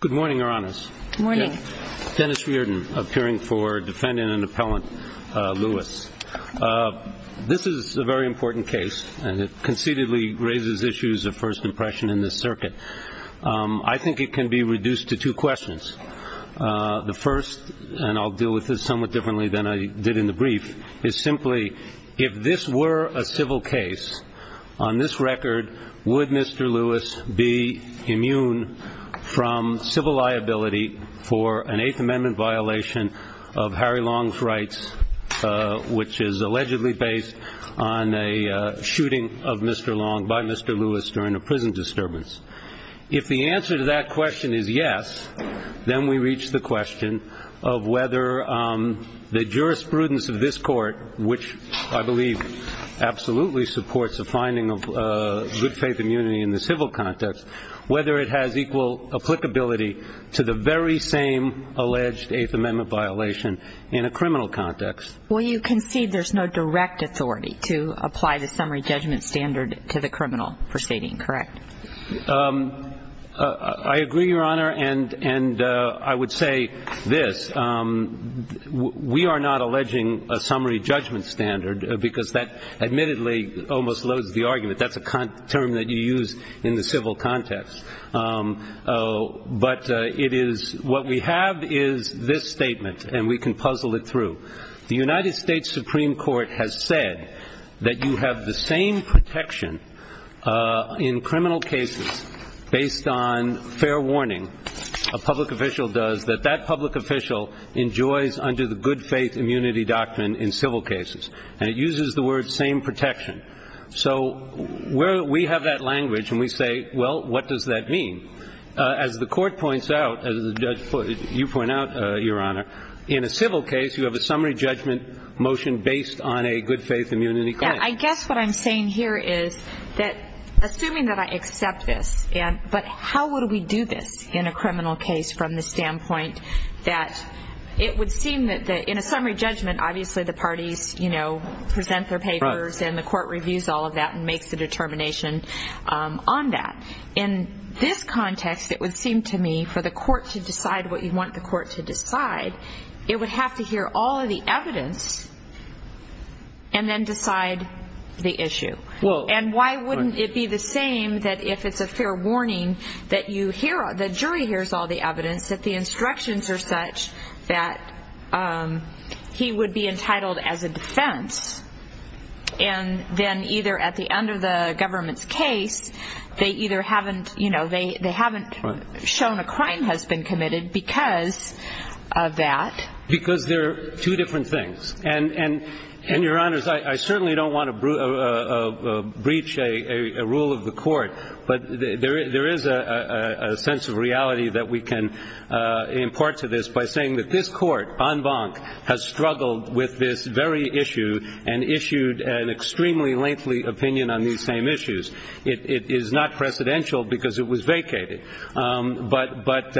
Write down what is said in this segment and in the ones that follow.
Good morning, Your Honors. Good morning. Dennis Reardon, appearing for Defendant and Appellant Lewis. This is a very important case, and it conceitedly raises issues of first impression in this circuit. I think it can be reduced to two questions. The first, and I'll deal with this somewhat differently than I did in the brief, is simply if this were a civil case, on this record, would Mr. Lewis be immune from civil liability for an Eighth Amendment violation of Harry Long's rights, which is allegedly based on a shooting of Mr. Long by Mr. Lewis during a prison disturbance? If the answer to that question is yes, then we reach the question of whether the jurisprudence of this court, which I believe absolutely supports the finding of good faith immunity in the civil context, whether it has equal applicability to the very same alleged Eighth Amendment violation in a criminal context. Well, you concede there's no direct authority to apply the summary judgment standard to the criminal proceeding, correct? I agree, Your Honor, and I would say this. We are not alleging a summary judgment standard because that admittedly almost loads the argument. That's a term that you use in the civil context. But what we have is this statement, and we can puzzle it through. The United States Supreme Court has said that you have the same protection in criminal cases based on fair warning, a public official does, that that public official enjoys under the good faith immunity doctrine in civil cases. And it uses the word same protection. So we have that language, and we say, well, what does that mean? As the court points out, as you point out, Your Honor, in a civil case you have a summary judgment motion based on a good faith immunity claim. I guess what I'm saying here is that assuming that I accept this, but how would we do this in a criminal case from the standpoint that it would seem that in a summary judgment, obviously the parties present their papers and the court reviews all of that and makes a determination on that. In this context, it would seem to me for the court to decide what you want the court to decide, it would have to hear all of the evidence and then decide the issue. And why wouldn't it be the same that if it's a fair warning that the jury hears all the evidence, that the instructions are such that he would be entitled as a defense, and then either at the end of the government's case they either haven't shown a crime has been committed because of that. Because they're two different things. And, Your Honors, I certainly don't want to breach a rule of the court, but there is a sense of reality that we can import to this by saying that this court, en banc, has struggled with this very issue and issued an extremely lengthy opinion on these same issues. It is not precedential because it was vacated. But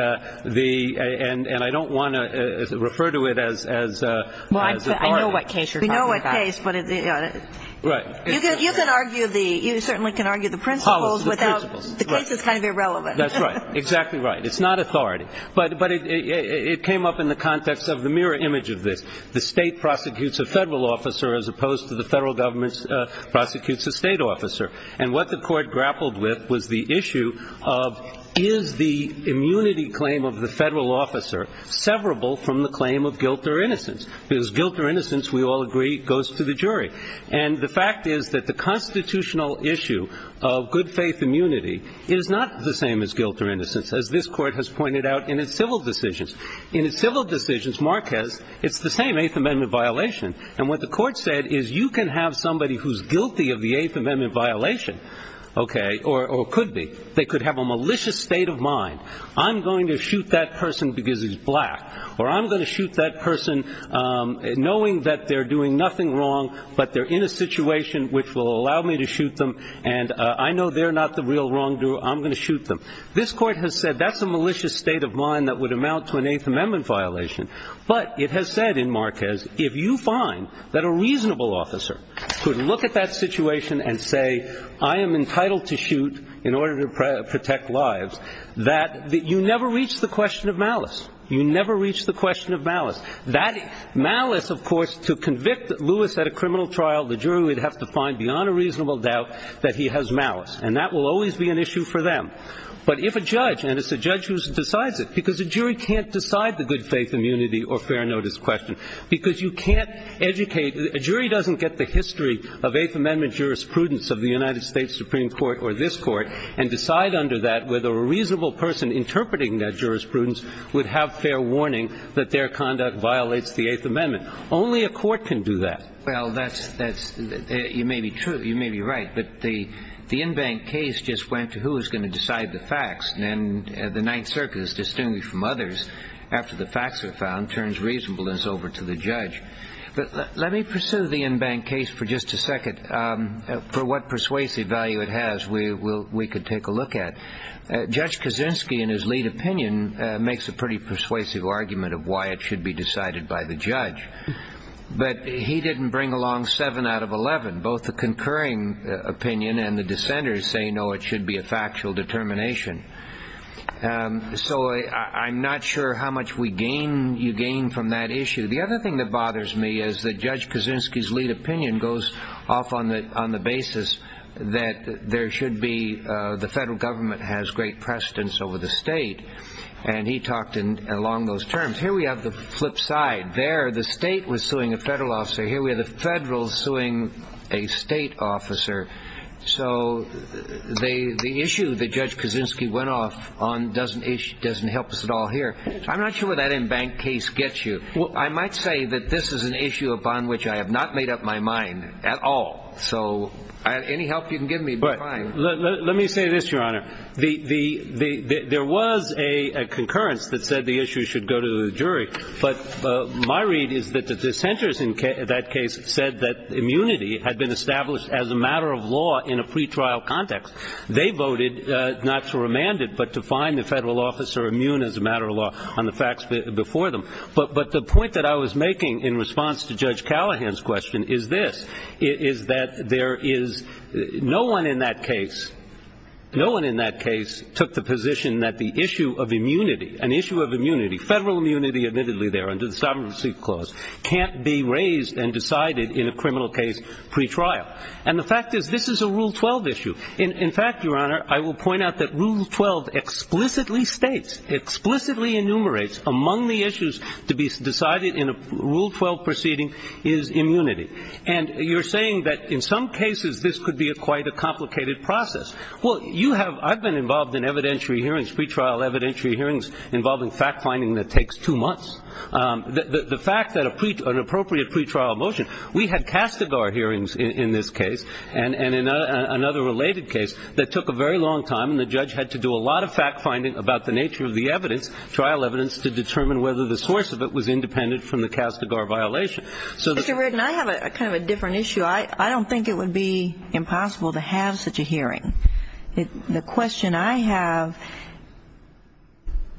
the – and I don't want to refer to it as important. Well, I know what case you're talking about. We know what case. Right. You can argue the – you certainly can argue the principles without – The principles. The case is kind of irrelevant. That's right. Exactly right. It's not authority. But it came up in the context of the mirror image of this. The state prosecutes a federal officer as opposed to the federal government prosecutes a state officer. And what the court grappled with was the issue of is the immunity claim of the federal officer severable from the claim of guilt or innocence? Because guilt or innocence, we all agree, goes to the jury. And the fact is that the constitutional issue of good faith immunity is not the same as guilt or innocence, as this court has pointed out in its civil decisions. In its civil decisions, Marquez, it's the same Eighth Amendment violation. And what the court said is you can have somebody who's guilty of the Eighth Amendment violation, okay, or could be. They could have a malicious state of mind. I'm going to shoot that person because he's black. Or I'm going to shoot that person knowing that they're doing nothing wrong, but they're in a situation which will allow me to shoot them. And I know they're not the real wrongdoer. I'm going to shoot them. This court has said that's a malicious state of mind that would amount to an Eighth Amendment violation. But it has said in Marquez if you find that a reasonable officer could look at that situation and say I am entitled to shoot in order to protect lives, that you never reach the question of malice. You never reach the question of malice. Malice, of course, to convict Lewis at a criminal trial, the jury would have to find beyond a reasonable doubt that he has malice. And that will always be an issue for them. But if a judge, and it's a judge who decides it, because a jury can't decide the good faith immunity or fair notice question because you can't educate. A jury doesn't get the history of Eighth Amendment jurisprudence of the United States Supreme Court or this court and decide under that whether a reasonable person interpreting that jurisprudence would have fair warning that their conduct violates the Eighth Amendment. Only a court can do that. Well, you may be true. You may be right. But the in-bank case just went to who is going to decide the facts. And the Ninth Circuit is distinguished from others after the facts are found, turns reasonableness over to the judge. For what persuasive value it has, we could take a look at. Judge Kaczynski, in his lead opinion, makes a pretty persuasive argument of why it should be decided by the judge. But he didn't bring along 7 out of 11. Both the concurring opinion and the dissenters say, no, it should be a factual determination. So I'm not sure how much you gain from that issue. The other thing that bothers me is that Judge Kaczynski's lead opinion goes off on the basis that there should be the federal government has great precedence over the state. And he talked along those terms. Here we have the flip side. There the state was suing a federal officer. Here we have the federal suing a state officer. So the issue that Judge Kaczynski went off on doesn't help us at all here. I'm not sure where that in-bank case gets you. I might say that this is an issue upon which I have not made up my mind at all. So any help you can give me would be fine. Let me say this, Your Honor. There was a concurrence that said the issue should go to the jury. But my read is that the dissenters in that case said that immunity had been established as a matter of law in a pretrial context. They voted not to remand it but to find the federal officer immune as a matter of law on the facts before them. But the point that I was making in response to Judge Callahan's question is this, is that there is no one in that case, no one in that case took the position that the issue of immunity, an issue of immunity, federal immunity admittedly there under the Sovereignty Clause, can't be raised and decided in a criminal case pretrial. And the fact is this is a Rule 12 issue. In fact, Your Honor, I will point out that Rule 12 explicitly states, explicitly enumerates among the issues to be decided in a Rule 12 proceeding is immunity. And you're saying that in some cases this could be quite a complicated process. Well, you have ñ I've been involved in evidentiary hearings, pretrial evidentiary hearings involving fact-finding that takes two months. The fact that an appropriate pretrial motion ñ we had Castigar hearings in this case and in another related case that took a very long time, and the judge had to do a lot of fact-finding about the nature of the evidence, trial evidence, to determine whether the source of it was independent from the Castigar violation. So the ñ Mr. Reddin, I have a kind of a different issue. The question I have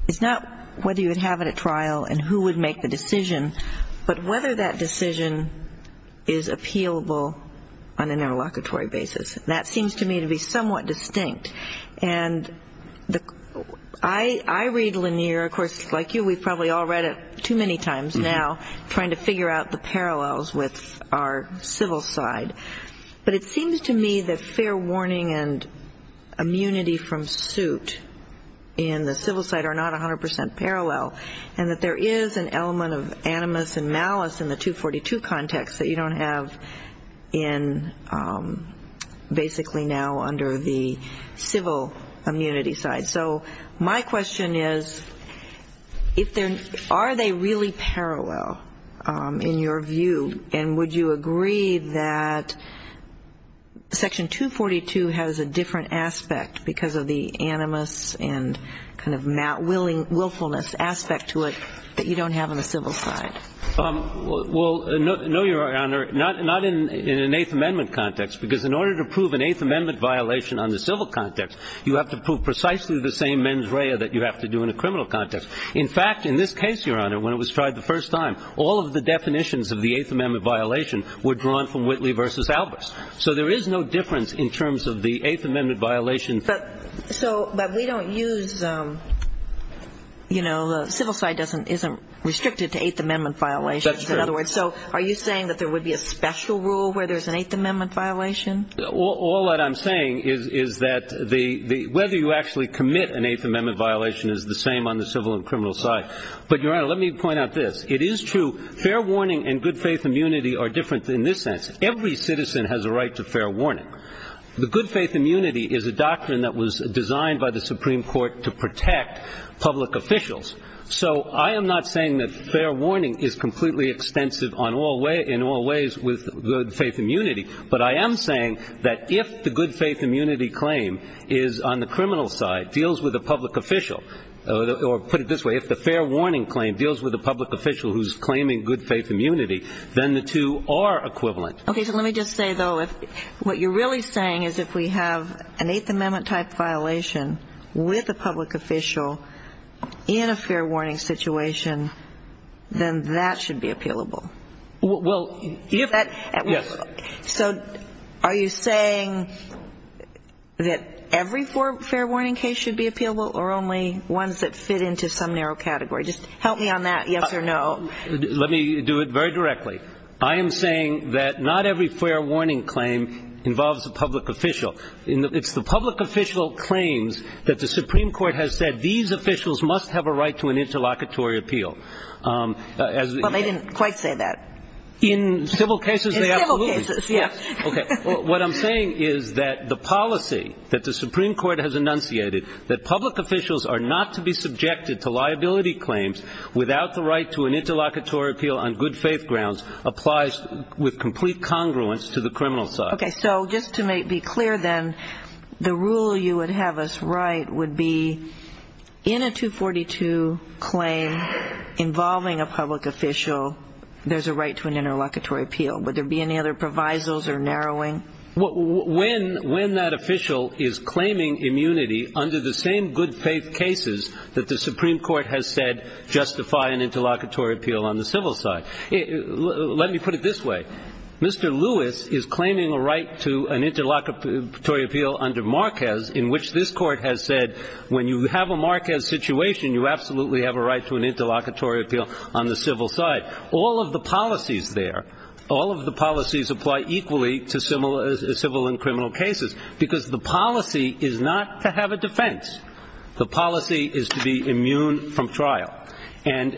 is not whether you would have it at trial and who would make the decision, but whether that decision is appealable on an interlocutory basis. That seems to me to be somewhat distinct. And I read Lanier, of course, like you, we've probably all read it too many times now, trying to figure out the parallels with our civil side. But it seems to me that fair warning and immunity from suit in the civil side are not 100% parallel and that there is an element of animus and malice in the 242 context that you don't have in basically now under the civil immunity side. So my question is if there ñ are they really parallel in your view? And would you agree that Section 242 has a different aspect because of the animus and kind of willfulness aspect to it that you don't have on the civil side? Well, no, Your Honor, not in an Eighth Amendment context, because in order to prove an Eighth Amendment violation on the civil context, you have to prove precisely the same mens rea that you have to do in a criminal context. In fact, in this case, Your Honor, when it was tried the first time, all of the definitions of the Eighth Amendment violation were drawn from Whitley v. Albers. So there is no difference in terms of the Eighth Amendment violation. But we don't use ñ you know, the civil side isn't restricted to Eighth Amendment violations. That's true. So are you saying that there would be a special rule where there's an Eighth Amendment violation? All that I'm saying is that whether you actually commit an Eighth Amendment violation is the same on the civil and criminal side. But, Your Honor, let me point out this. It is true fair warning and good faith immunity are different in this sense. Every citizen has a right to fair warning. The good faith immunity is a doctrine that was designed by the Supreme Court to protect public officials. So I am not saying that fair warning is completely extensive in all ways with good faith immunity. But I am saying that if the good faith immunity claim is on the criminal side, deals with a public official, or put it this way, if the fair warning claim deals with a public official who's claiming good faith immunity, then the two are equivalent. Okay. So let me just say, though, what you're really saying is if we have an Eighth Amendment-type violation with a public official in a fair warning situation, then that should be appealable. Well, yes. So are you saying that every fair warning case should be appealable or only ones that fit into some narrow category? Just help me on that yes or no. Let me do it very directly. I am saying that not every fair warning claim involves a public official. It's the public official claims that the Supreme Court has said these officials must have a right to an interlocutory appeal. Well, they didn't quite say that. In civil cases, they absolutely did. In civil cases, yes. Okay. What I'm saying is that the policy that the Supreme Court has enunciated, that public officials are not to be subjected to liability claims without the right to an interlocutory appeal on good faith grounds, applies with complete congruence to the criminal side. Okay. So just to be clear then, the rule you would have us write would be in a 242 claim involving a public official, there's a right to an interlocutory appeal. Would there be any other provisos or narrowing? When that official is claiming immunity under the same good faith cases that the Supreme Court has said justify an interlocutory appeal on the civil side. Let me put it this way. Mr. Lewis is claiming a right to an interlocutory appeal under Marquez in which this Court has said when you have a Marquez situation, you absolutely have a right to an interlocutory appeal on the civil side. All of the policies there, all of the policies apply equally to civil and criminal cases because the policy is not to have a defense. The policy is to be immune from trial. And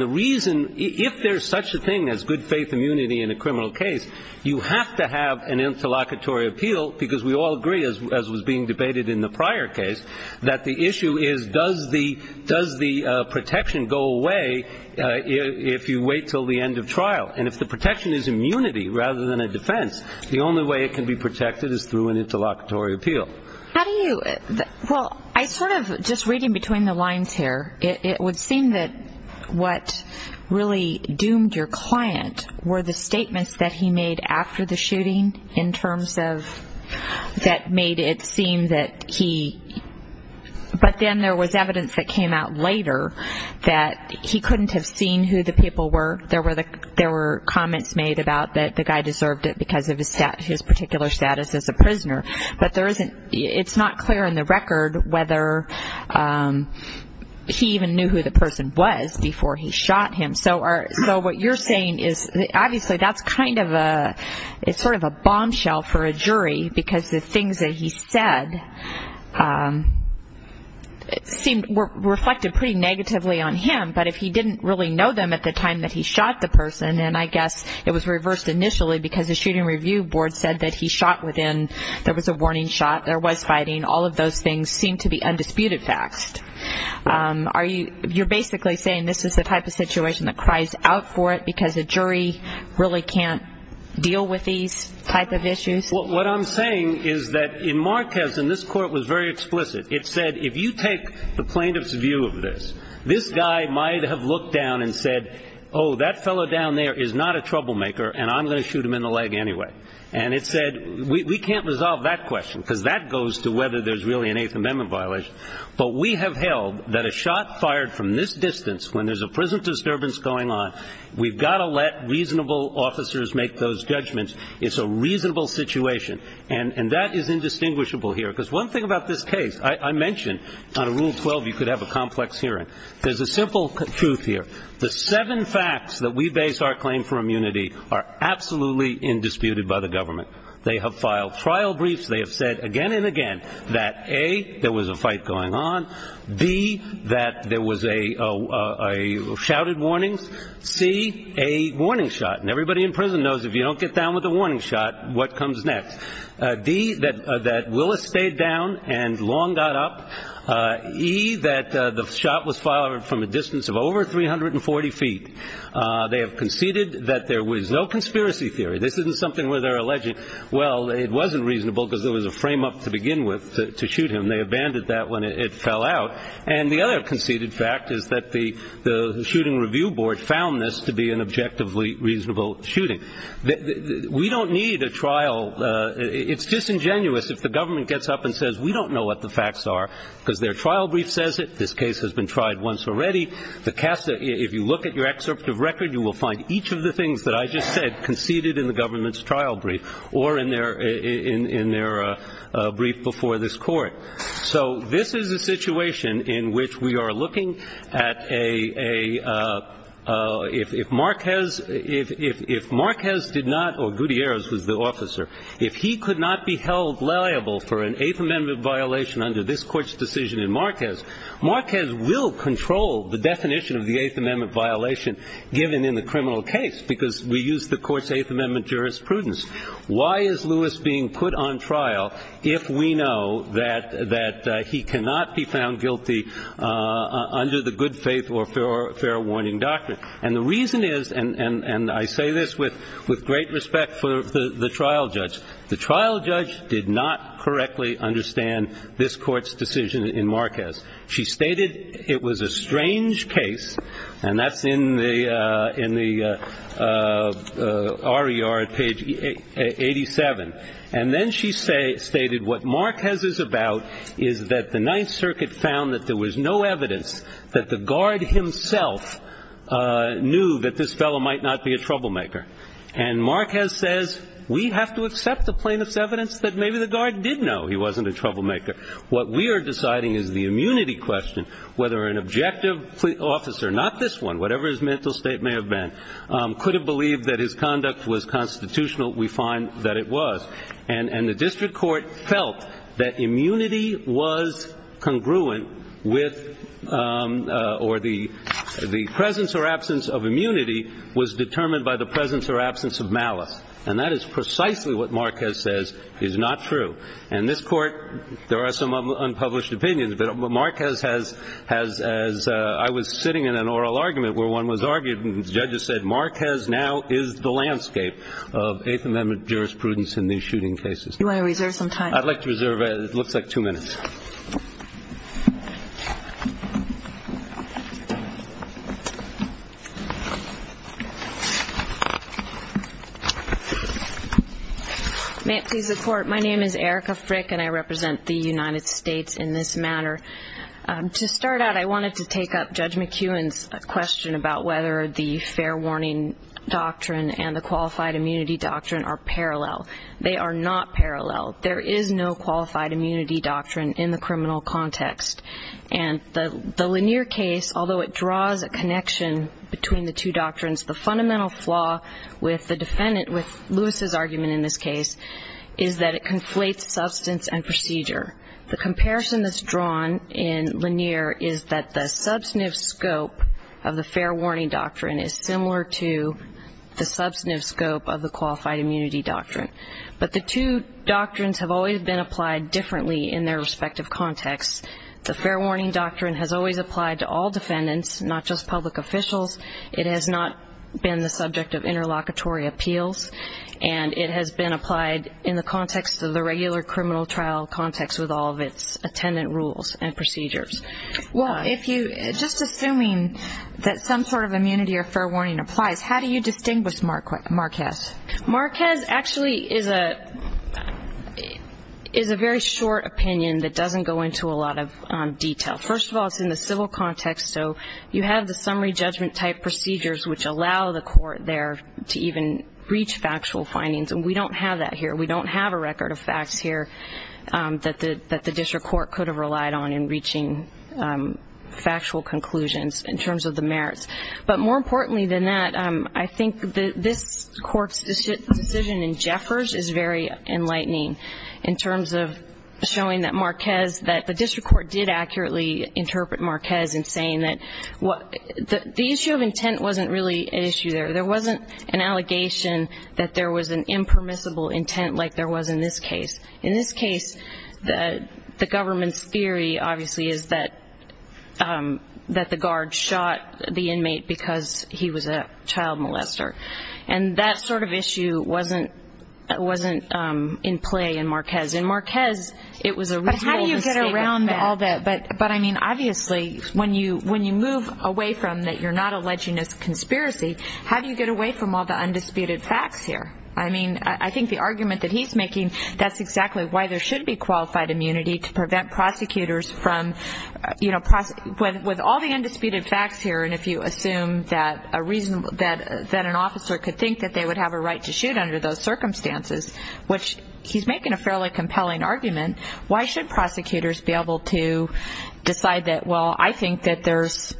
the reason, if there's such a thing as good faith immunity in a criminal case, you have to have an interlocutory appeal because we all agree, as was being debated in the prior case, that the issue is does the protection go away if you wait until the end of trial? And if the protection is immunity rather than a defense, the only way it can be protected is through an interlocutory appeal. Well, I sort of, just reading between the lines here, it would seem that what really doomed your client were the statements that he made after the shooting in terms of that made it seem that he, but then there was evidence that came out later that he couldn't have seen who the people were. There were comments made about that the guy deserved it because of his particular status as a prisoner. But there isn't, it's not clear in the record whether he even knew who the person was before he shot him. So what you're saying is obviously that's kind of a, it's sort of a bombshell for a jury because the things that he said seemed, were reflected pretty negatively on him. But if he didn't really know them at the time that he shot the person, then I guess it was reversed initially because the shooting review board said that he shot within, there was a warning shot, there was fighting, all of those things seem to be undisputed facts. Are you, you're basically saying this is the type of situation that cries out for it because the jury really can't deal with these type of issues? What I'm saying is that in Marquez, and this court was very explicit, it said if you take the plaintiff's view of this, this guy might have looked down and said, oh, that fellow down there is not a troublemaker and I'm going to shoot him in the leg anyway. And it said we can't resolve that question because that goes to whether there's really an Eighth Amendment violation. But we have held that a shot fired from this distance when there's a prison disturbance going on, we've got to let reasonable officers make those judgments. It's a reasonable situation. And that is indistinguishable here because one thing about this case, I mentioned on Rule 12 you could have a complex hearing. There's a simple truth here. The seven facts that we base our claim for immunity are absolutely indisputed by the government. They have filed trial briefs. They have said again and again that, A, there was a fight going on, B, that there was a shouted warning, C, a warning shot. And everybody in prison knows if you don't get down with a warning shot, what comes next? D, that Willis stayed down and Long got up. E, that the shot was fired from a distance of over 340 feet. They have conceded that there was no conspiracy theory. This isn't something where they're alleging, well, it wasn't reasonable because there was a frame-up to begin with to shoot him. They abandoned that when it fell out. And the other conceded fact is that the shooting review board found this to be an objectively reasonable shooting. We don't need a trial. It's disingenuous if the government gets up and says we don't know what the facts are because their trial brief says it. This case has been tried once already. The CASA, if you look at your excerpt of record, you will find each of the things that I just said conceded in the government's trial brief or in their brief before this Court. So this is a situation in which we are looking at a, if Marquez did not, or Gutierrez was the officer, if he could not be held liable for an Eighth Amendment violation under this Court's decision in Marquez, Marquez will control the definition of the Eighth Amendment violation given in the criminal case because we use the Court's Eighth Amendment jurisprudence. Why is Lewis being put on trial if we know that he cannot be found guilty under the good faith or fair warning doctrine? And the reason is, and I say this with great respect for the trial judge, the trial judge did not correctly understand this Court's decision in Marquez. She stated it was a strange case, and that's in the RER page. And then she stated what Marquez is about is that the Ninth Circuit found that there was no evidence that the guard himself knew that this fellow might not be a troublemaker. And Marquez says we have to accept the plaintiff's evidence that maybe the guard did know he wasn't a troublemaker. What we are deciding is the immunity question, whether an objective officer, not this one, whatever his mental state may have been, could have believed that his conduct was constitutional, we find that it was. And the district court felt that immunity was congruent with or the presence or absence of immunity was determined by the presence or absence of malice. And that is precisely what Marquez says is not true. And this Court, there are some unpublished opinions, but Marquez has, as I was sitting in an oral argument where one was arguing, the judges said Marquez now is the landscape of Eighth Amendment jurisprudence in these shooting cases. Do you want to reserve some time? I'd like to reserve, it looks like two minutes. May it please the Court, my name is Erica Frick and I represent the United States in this matter. To start out, I wanted to take up Judge McEwen's question about whether the fair warning doctrine and the qualified immunity doctrine are parallel. They are not parallel. And the Lanier case, although it draws a connection between the two doctrines, the fundamental flaw with the defendant, with Lewis's argument in this case, is that it conflates substance and procedure. The comparison that's drawn in Lanier is that the substantive scope of the fair warning doctrine is similar to the substantive scope of the qualified immunity doctrine. But the two doctrines have always been applied differently in their respective contexts. The fair warning doctrine has always applied to all defendants, not just public officials. It has not been the subject of interlocutory appeals. And it has been applied in the context of the regular criminal trial context with all of its attendant rules and procedures. Well, if you, just assuming that some sort of immunity or fair warning applies, how do you distinguish Marquez? Marquez actually is a very short opinion that doesn't go into a lot of detail. First of all, it's in the civil context, so you have the summary judgment-type procedures which allow the court there to even reach factual findings, and we don't have that here. We don't have a record of facts here that the district court could have relied on in reaching factual conclusions in terms of the merits. But more importantly than that, I think this Court's decision in Jeffers is very enlightening in terms of showing that Marquez, that the district court did accurately interpret Marquez in saying that the issue of intent wasn't really an issue there. There wasn't an allegation that there was an impermissible intent like there was in this case. In this case, the government's theory, obviously, is that the guard shot the inmate because he was a child molester, and that sort of issue wasn't in play in Marquez. In Marquez, it was a real misdemeanor. But how do you get around all that? But, I mean, obviously, when you move away from that you're not alleging a conspiracy, how do you get away from all the undisputed facts here? I mean, I think the argument that he's making, that's exactly why there should be qualified immunity to prevent prosecutors from, you know, with all the undisputed facts here, and if you assume that an officer could think that they would have a right to shoot under those circumstances, which he's making a fairly compelling argument, why should prosecutors be able to decide that, well, I think there's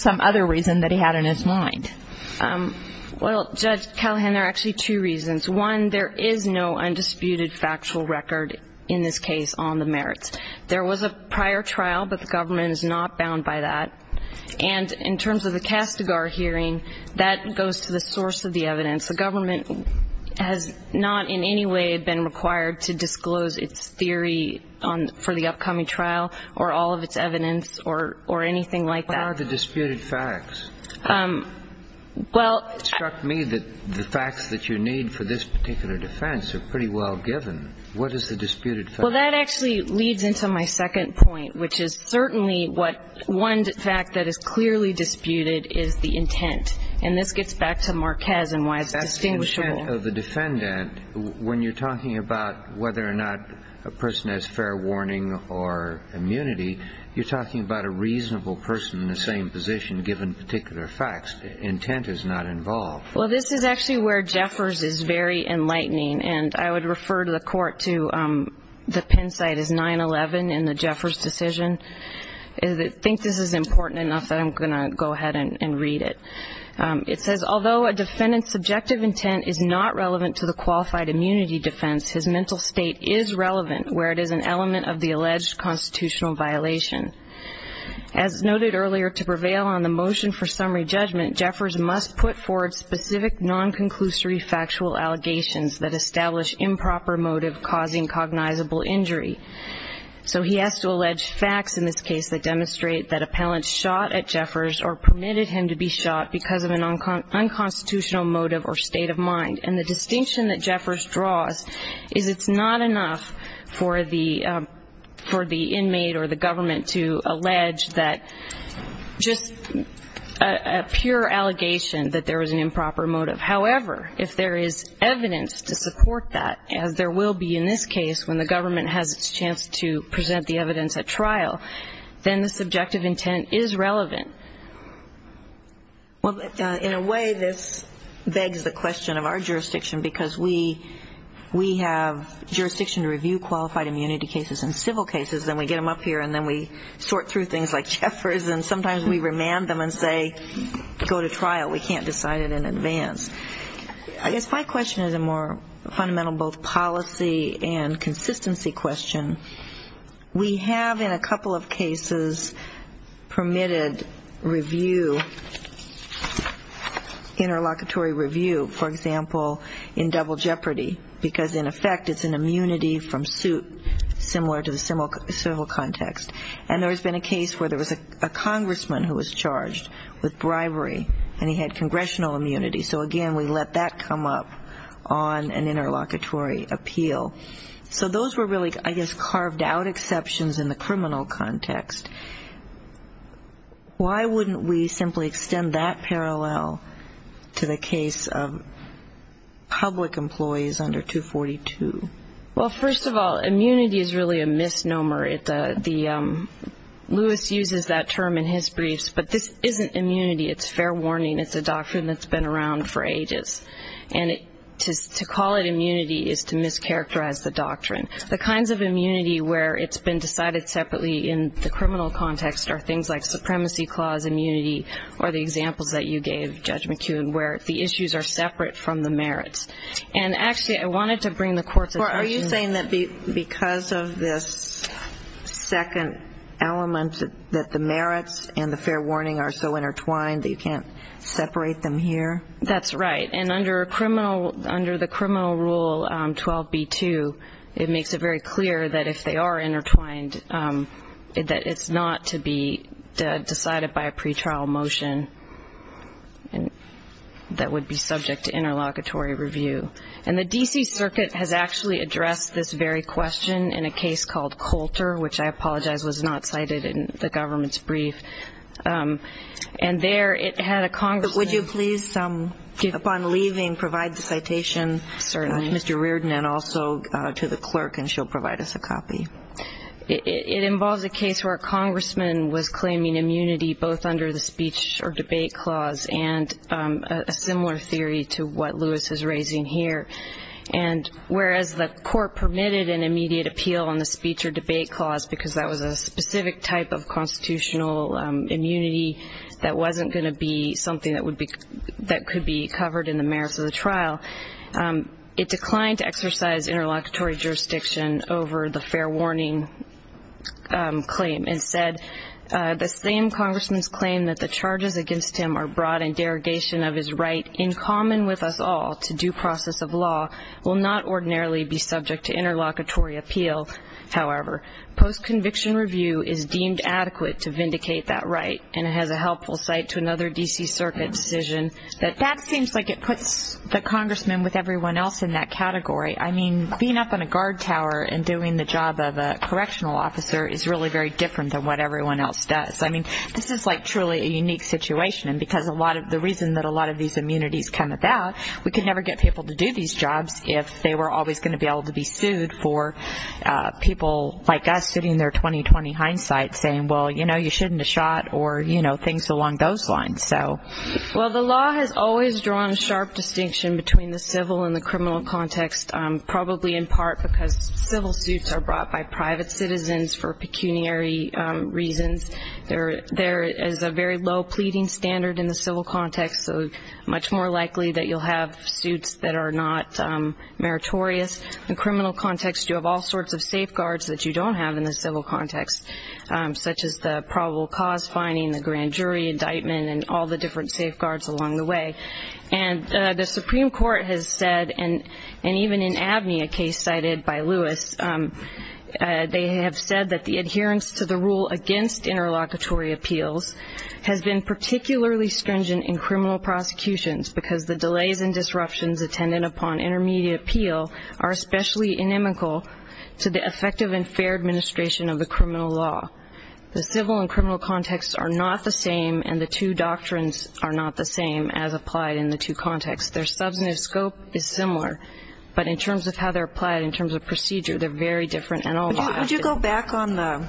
some other reason that he had in his mind? Well, Judge Callahan, there are actually two reasons. One, there is no undisputed factual record in this case on the merits. There was a prior trial, but the government is not bound by that. And in terms of the Castigar hearing, that goes to the source of the evidence. The government has not in any way been required to disclose its theory for the upcoming trial or all of its evidence or anything like that. What are the disputed facts? Well. It struck me that the facts that you need for this particular defense are pretty well given. What is the disputed fact? Well, that actually leads into my second point, which is certainly what one fact that is clearly disputed is the intent, and this gets back to Marquez and why it's distinguishable. That's the intent of the defendant. When you're talking about whether or not a person has fair warning or immunity, you're talking about a reasonable person in the same position given particular facts. Intent is not involved. Well, this is actually where Jeffers is very enlightening, and I would refer to the court to the Penn site as 9-11 in the Jeffers decision. I think this is important enough that I'm going to go ahead and read it. It says, Although a defendant's subjective intent is not relevant to the qualified immunity defense, his mental state is relevant where it is an element of the alleged constitutional violation. As noted earlier, to prevail on the motion for summary judgment, Jeffers must put forward specific non-conclusory factual allegations that establish improper motive causing cognizable injury. So he has to allege facts in this case that demonstrate that appellants shot at Jeffers or permitted him to be shot because of an unconstitutional motive or state of mind, and the distinction that Jeffers draws is it's not enough for the inmate or the government to allege that just a pure allegation that there was an improper motive. However, if there is evidence to support that, as there will be in this case when the government has its chance to present the evidence at trial, then the subjective intent is relevant. Well, in a way, this begs the question of our jurisdiction, because we have jurisdiction to review qualified immunity cases and civil cases, and we get them up here and then we sort through things like Jeffers, and sometimes we remand them and say, go to trial. We can't decide it in advance. I guess my question is a more fundamental both policy and consistency question. We have in a couple of cases permitted interlocutory review, for example, in double jeopardy, because in effect it's an immunity from suit similar to the civil context. And there has been a case where there was a congressman who was charged with bribery, and he had congressional immunity. So, again, we let that come up on an interlocutory appeal. So those were really, I guess, carved out exceptions in the criminal context. Why wouldn't we simply extend that parallel to the case of public employees under 242? Well, first of all, immunity is really a misnomer. Lewis uses that term in his briefs, but this isn't immunity. It's fair warning. It's a doctrine that's been around for ages. And to call it immunity is to mischaracterize the doctrine. The kinds of immunity where it's been decided separately in the criminal context are things like supremacy clause immunity or the examples that you gave, Judge McKeown, where the issues are separate from the merits. And, actually, I wanted to bring the court's attention to that. Are you saying that because of this second element, that the merits and the fair warning are so intertwined that you can't separate them here? That's right. And under the criminal rule 12b-2, it makes it very clear that if they are intertwined, that it's not to be decided by a pretrial motion that would be subject to interlocutory review. And the D.C. Circuit has actually addressed this very question in a case called Coulter, which I apologize was not cited in the government's brief. And there it had a congressman. But would you please, upon leaving, provide the citation to Mr. Reardon and also to the clerk, and she'll provide us a copy. It involves a case where a congressman was claiming immunity both under the speech or debate clause and a similar theory to what Lewis is raising here. And whereas the court permitted an immediate appeal on the speech or debate clause because that was a specific type of constitutional immunity that wasn't going to be something that could be covered in the merits of the trial, it declined to exercise interlocutory jurisdiction over the fair warning claim. Instead, the same congressman's claim that the charges against him are broad and derogation of his right in common with us all to due process of law will not ordinarily be subject to interlocutory appeal, however. Post-conviction review is deemed adequate to vindicate that right, and it has a helpful site to another D.C. Circuit decision. But that seems like it puts the congressman with everyone else in that category. I mean, being up on a guard tower and doing the job of a correctional officer is really very different than what everyone else does. I mean, this is like truly a unique situation, because the reason that a lot of these immunities come about, we could never get people to do these jobs if they were always going to be able to be sued for people like us sitting there 20-20 hindsight saying, well, you know, you shouldn't have shot or, you know, things along those lines. Well, the law has always drawn a sharp distinction between the civil and the criminal context, probably in part because civil suits are brought by private citizens for pecuniary reasons. There is a very low pleading standard in the civil context, so much more likely that you'll have suits that are not meritorious. In the criminal context, you have all sorts of safeguards that you don't have in the civil context, such as the probable cause finding, the grand jury indictment, and all the different safeguards along the way. And the Supreme Court has said, and even in Abney, a case cited by Lewis, they have said that the adherence to the rule against interlocutory appeals has been particularly stringent in criminal prosecutions because the delays and disruptions attended upon intermediate appeal are especially inimical to the effective and fair administration of the criminal law. The civil and criminal contexts are not the same, and the two doctrines are not the same as applied in the two contexts. Their substantive scope is similar, but in terms of how they're applied, in terms of procedure, they're very different in all of them. Would you go back on the,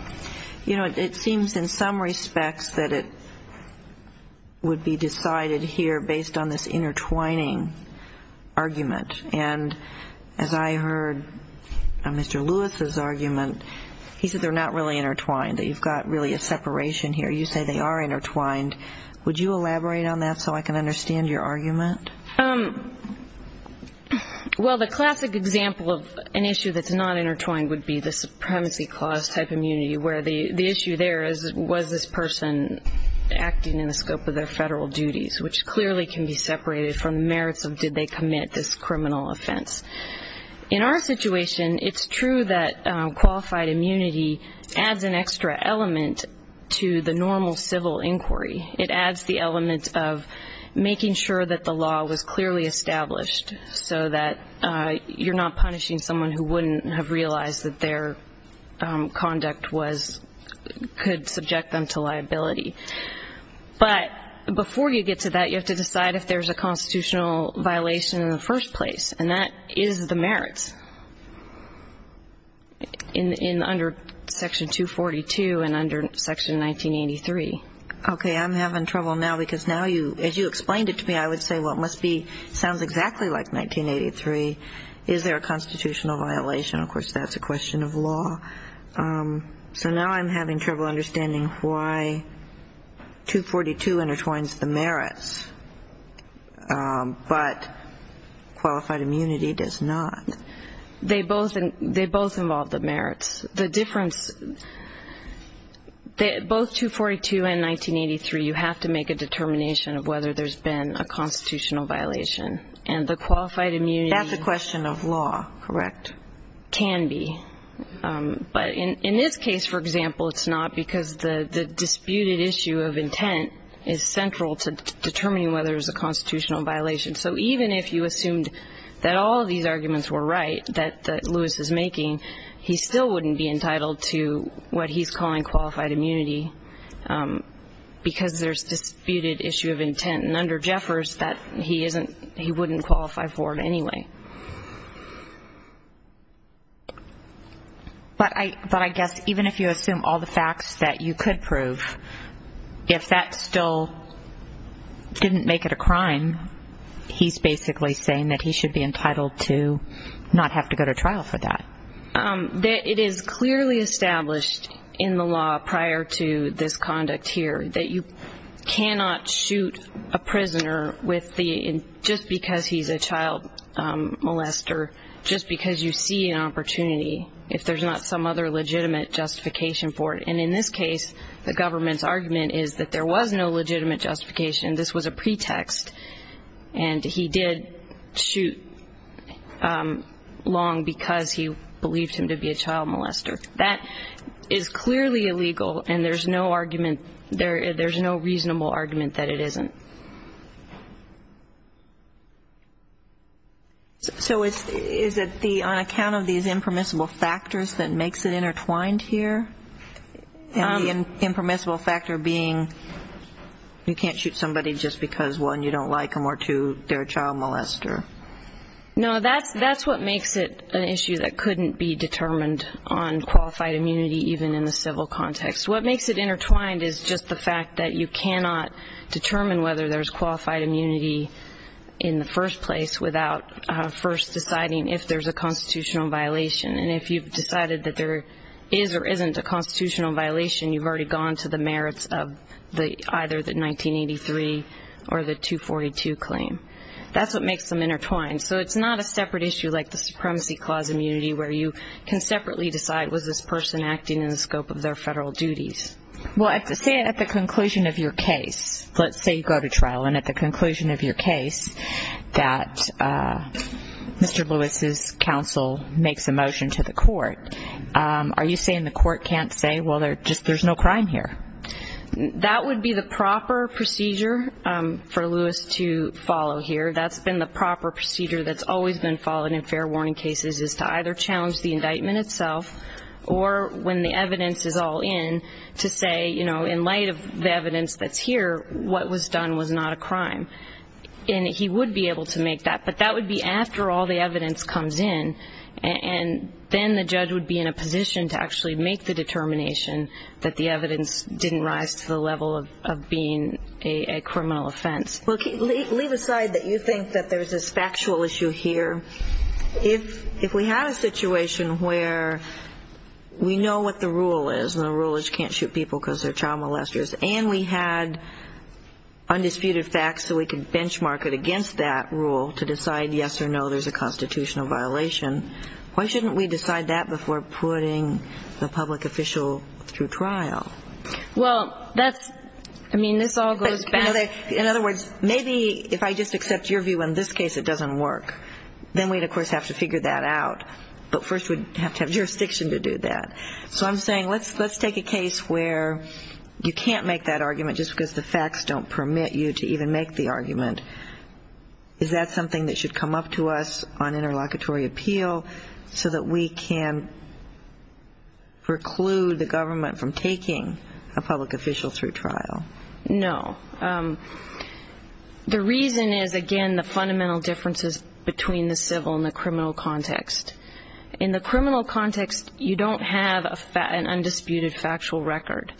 you know, it seems in some respects that it would be decided here based on this intertwining argument. And as I heard Mr. Lewis's argument, he said they're not really intertwined, that you've got really a separation here. You say they are intertwined. Well, the classic example of an issue that's not intertwined would be the supremacy clause type immunity, where the issue there is was this person acting in the scope of their federal duties, which clearly can be separated from the merits of did they commit this criminal offense. In our situation, it's true that qualified immunity adds an extra element to the normal civil inquiry. It adds the element of making sure that the law was clearly established so that you're not punishing someone who wouldn't have realized that their conduct was, could subject them to liability. But before you get to that, you have to decide if there's a constitutional violation in the first place, and that is the merits. In under Section 242 and under Section 1983. Okay. I'm having trouble now because now you, as you explained it to me, I would say, well, it must be, sounds exactly like 1983. Is there a constitutional violation? Of course, that's a question of law. So now I'm having trouble understanding why 242 intertwines the merits, but qualified immunity does not. They both involve the merits. The difference, both 242 and 1983, you have to make a determination of whether there's been a constitutional violation. And the qualified immunity. That's a question of law, correct. Can be. But in this case, for example, it's not because the disputed issue of intent is central to determining whether there's a constitutional violation. So even if you assumed that all of these arguments were right, that Lewis is making, he still wouldn't be entitled to what he's calling qualified immunity because there's disputed issue of intent. And under Jeffers, he wouldn't qualify for it anyway. But I guess even if you assume all the facts that you could prove, if that still didn't make it a crime, he's basically saying that he should be entitled to not have to go to trial for that. It is clearly established in the law prior to this conduct here that you cannot shoot a prisoner just because he's a child molester, just because you see an opportunity if there's not some other legitimate justification for it. And in this case, the government's argument is that there was no legitimate justification. This was a pretext. And he did shoot Long because he believed him to be a child molester. That is clearly illegal, and there's no argument, there's no reasonable argument that it isn't. So is it on account of these impermissible factors that makes it intertwined here? The impermissible factor being you can't shoot somebody just because, one, you don't like them, or, two, they're a child molester. No, that's what makes it an issue that couldn't be determined on qualified immunity even in the civil context. What makes it intertwined is just the fact that you cannot determine whether there's qualified immunity in the first place without first deciding if there's a constitutional violation. And if you've decided that there is or isn't a constitutional violation, you've already gone to the merits of either the 1983 or the 242 claim. That's what makes them intertwined. So it's not a separate issue like the Supremacy Clause immunity where you can separately decide was this person acting in the scope of their federal duties. Well, say at the conclusion of your case, let's say you go to trial, and at the conclusion of your case that Mr. Lewis's counsel makes a motion to the court, are you saying the court can't say, well, there's no crime here? That would be the proper procedure for Lewis to follow here. That's been the proper procedure that's always been followed in fair warning cases, is to either challenge the indictment itself or, when the evidence is all in, to say, you know, in light of the evidence that's here, what was done was not a crime. And he would be able to make that, but that would be after all the evidence comes in, and then the judge would be in a position to actually make the determination that the evidence didn't rise to the level of being a criminal offense. Well, leave aside that you think that there's this factual issue here. If we had a situation where we know what the rule is, and the rule is you can't shoot people because they're child molesters, and we had undisputed facts so we could benchmark it against that rule to decide yes or no there's a constitutional violation, why shouldn't we decide that before putting the public official through trial? Well, that's, I mean, this all goes back. In other words, maybe if I just accept your view in this case it doesn't work, then we'd, of course, have to figure that out. But first we'd have to have jurisdiction to do that. So I'm saying let's take a case where you can't make that argument just because the facts don't permit you to even make the argument. Is that something that should come up to us on interlocutory appeal so that we can preclude the government from taking a public official through trial? No. The reason is, again, the fundamental differences between the civil and the criminal context. In the criminal context you don't have an undisputed factual record.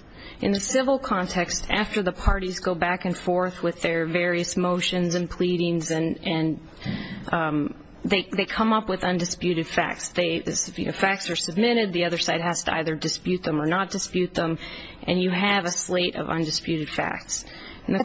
In the civil context, after the parties go back and forth with their various motions and pleadings and they come up with undisputed facts, facts are submitted, the other side has to either dispute them or not dispute them, and you have a slate of undisputed facts. These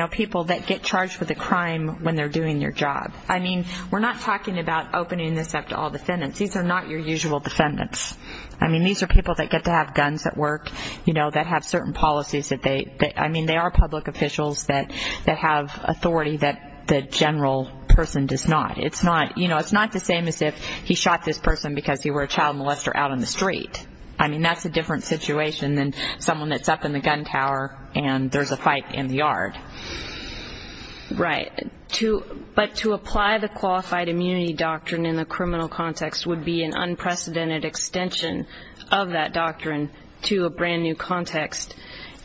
are people that get charged with a crime when they're doing their job. I mean, we're not talking about opening this up to all defendants. These are not your usual defendants. I mean, these are people that get to have guns at work, you know, that have certain policies. I mean, they are public officials that have authority that the general person does not. It's not the same as if he shot this person because he were a child molester out on the street. I mean, that's a different situation than someone that's up in the gun tower and there's a fight in the yard. Right, but to apply the qualified immunity doctrine in the criminal context would be an unprecedented extension of that doctrine to a brand-new context,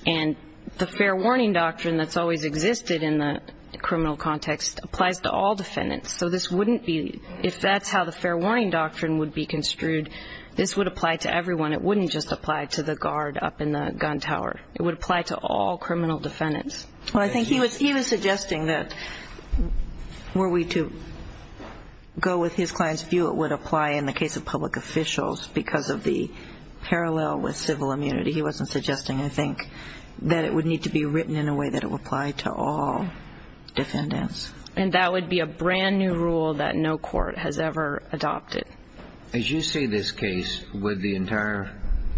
and the fair warning doctrine that's always existed in the criminal context applies to all defendants. So this wouldn't be – if that's how the fair warning doctrine would be construed, this would apply to everyone. It wouldn't just apply to the guard up in the gun tower. It would apply to all criminal defendants. Well, I think he was suggesting that were we to go with his client's view, it would apply in the case of public officials because of the parallel with civil immunity. He wasn't suggesting, I think, that it would need to be written in a way that it would apply to all defendants. And that would be a brand-new rule that no court has ever adopted. As you say this case, would the entire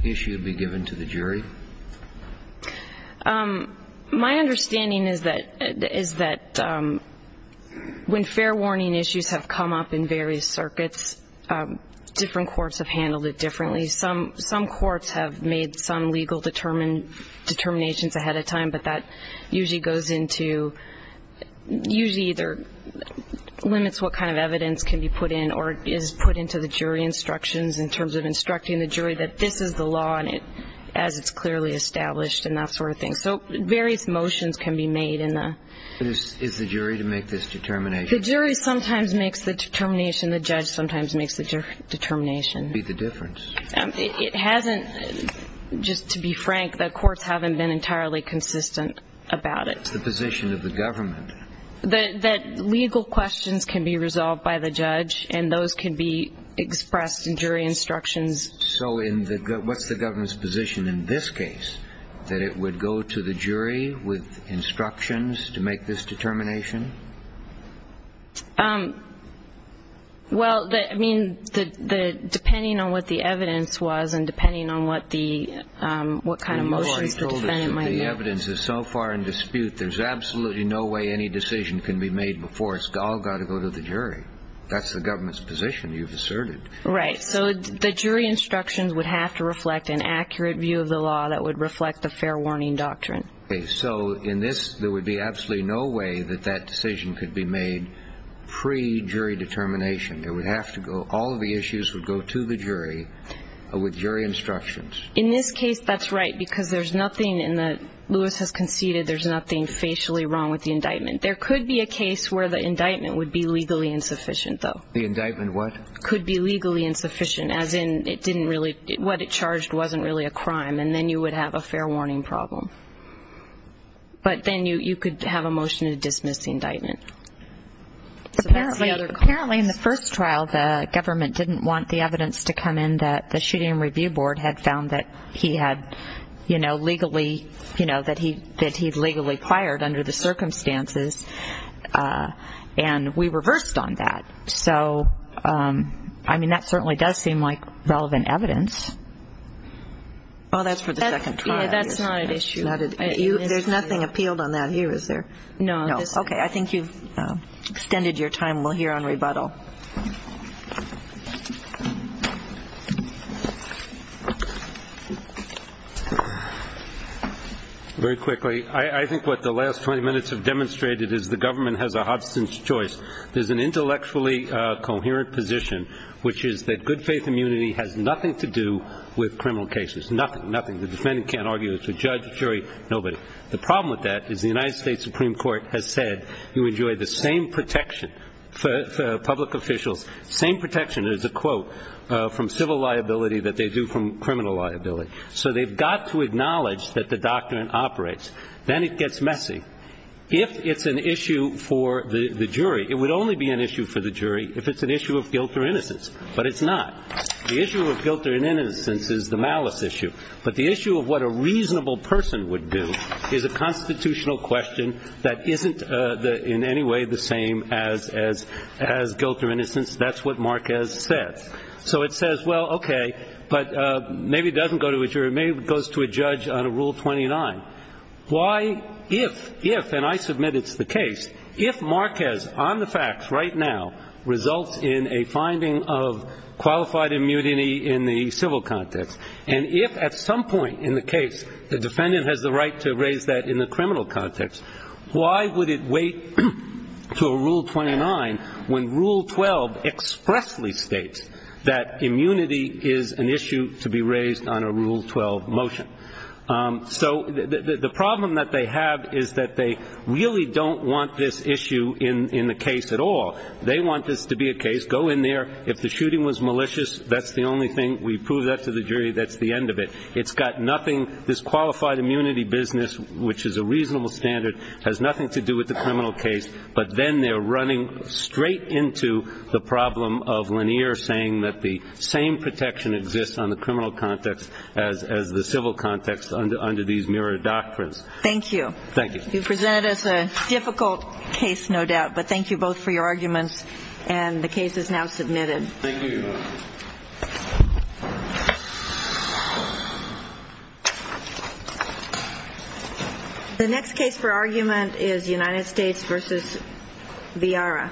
issue be given to the jury? My understanding is that when fair warning issues have come up in various circuits, different courts have handled it differently. Some courts have made some legal determinations ahead of time, but that usually goes into – usually either limits what kind of evidence can be put in or is put into the jury instructions in terms of instructing the jury that this is the law as it's clearly established and that sort of thing. So various motions can be made in the – Is the jury to make this determination? The jury sometimes makes the determination. The judge sometimes makes the determination. What would be the difference? It hasn't – just to be frank, the courts haven't been entirely consistent about it. What's the position of the government? That legal questions can be resolved by the judge, and those can be expressed in jury instructions. So what's the government's position in this case, that it would go to the jury with instructions to make this determination? Well, I mean, depending on what the evidence was and depending on what kind of motions the defendant might make. If the evidence is so far in dispute, there's absolutely no way any decision can be made before. It's all got to go to the jury. That's the government's position, you've asserted. Right. So the jury instructions would have to reflect an accurate view of the law that would reflect the fair warning doctrine. So in this, there would be absolutely no way that that decision could be made pre-jury determination. It would have to go – all of the issues would go to the jury with jury instructions. In this case, that's right, because there's nothing in the – Lewis has conceded there's nothing facially wrong with the indictment. There could be a case where the indictment would be legally insufficient, though. The indictment what? Could be legally insufficient, as in it didn't really – what it charged wasn't really a crime, and then you would have a fair warning problem. But then you could have a motion to dismiss the indictment. Apparently, in the first trial, the government didn't want the evidence to come in that the Shooting and Review Board had found that he had legally – that he had legally acquired under the circumstances, and we reversed on that. So, I mean, that certainly does seem like relevant evidence. Well, that's for the second trial. Yeah, that's not an issue. There's nothing appealed on that here, is there? No. Okay, I think you've extended your time. We'll hear on rebuttal. Very quickly, I think what the last 20 minutes have demonstrated is the government has a hobson's choice. There's an intellectually coherent position, which is that good faith immunity has nothing to do with criminal cases, nothing, nothing. The defendant can't argue it's a judge, a jury, nobody. The problem with that is the United States Supreme Court has said you enjoy the same protection for public officials, same protection, there's a quote, from civil liability that they do from criminal liability. So they've got to acknowledge that the doctrine operates. Then it gets messy. If it's an issue for the jury, it would only be an issue for the jury if it's an issue of guilt or innocence. But it's not. The issue of guilt or innocence is the malice issue. But the issue of what a reasonable person would do is a constitutional question that isn't in any way the same as guilt or innocence. That's what Marquez says. So it says, well, okay, but maybe it doesn't go to a jury. Maybe it goes to a judge on a Rule 29. Why if, if, and I submit it's the case, if Marquez on the facts right now results in a finding of qualified immunity in the civil context, and if at some point in the case the defendant has the right to raise that in the criminal context, why would it wait to a Rule 29 when Rule 12 expressly states that immunity is an issue to be raised on a Rule 12 motion? So the problem that they have is that they really don't want this issue in the case at all. They want this to be a case. Go in there. If the shooting was malicious, that's the only thing. We prove that to the jury. That's the end of it. It's got nothing. This qualified immunity business, which is a reasonable standard, has nothing to do with the criminal case. But then they're running straight into the problem of Lanier saying that the same protection exists on the criminal context as the civil context under these mirror doctrines. Thank you. Thank you. You presented us a difficult case, no doubt. But thank you both for your arguments, and the case is now submitted. Thank you. The next case for argument is United States v. Viara.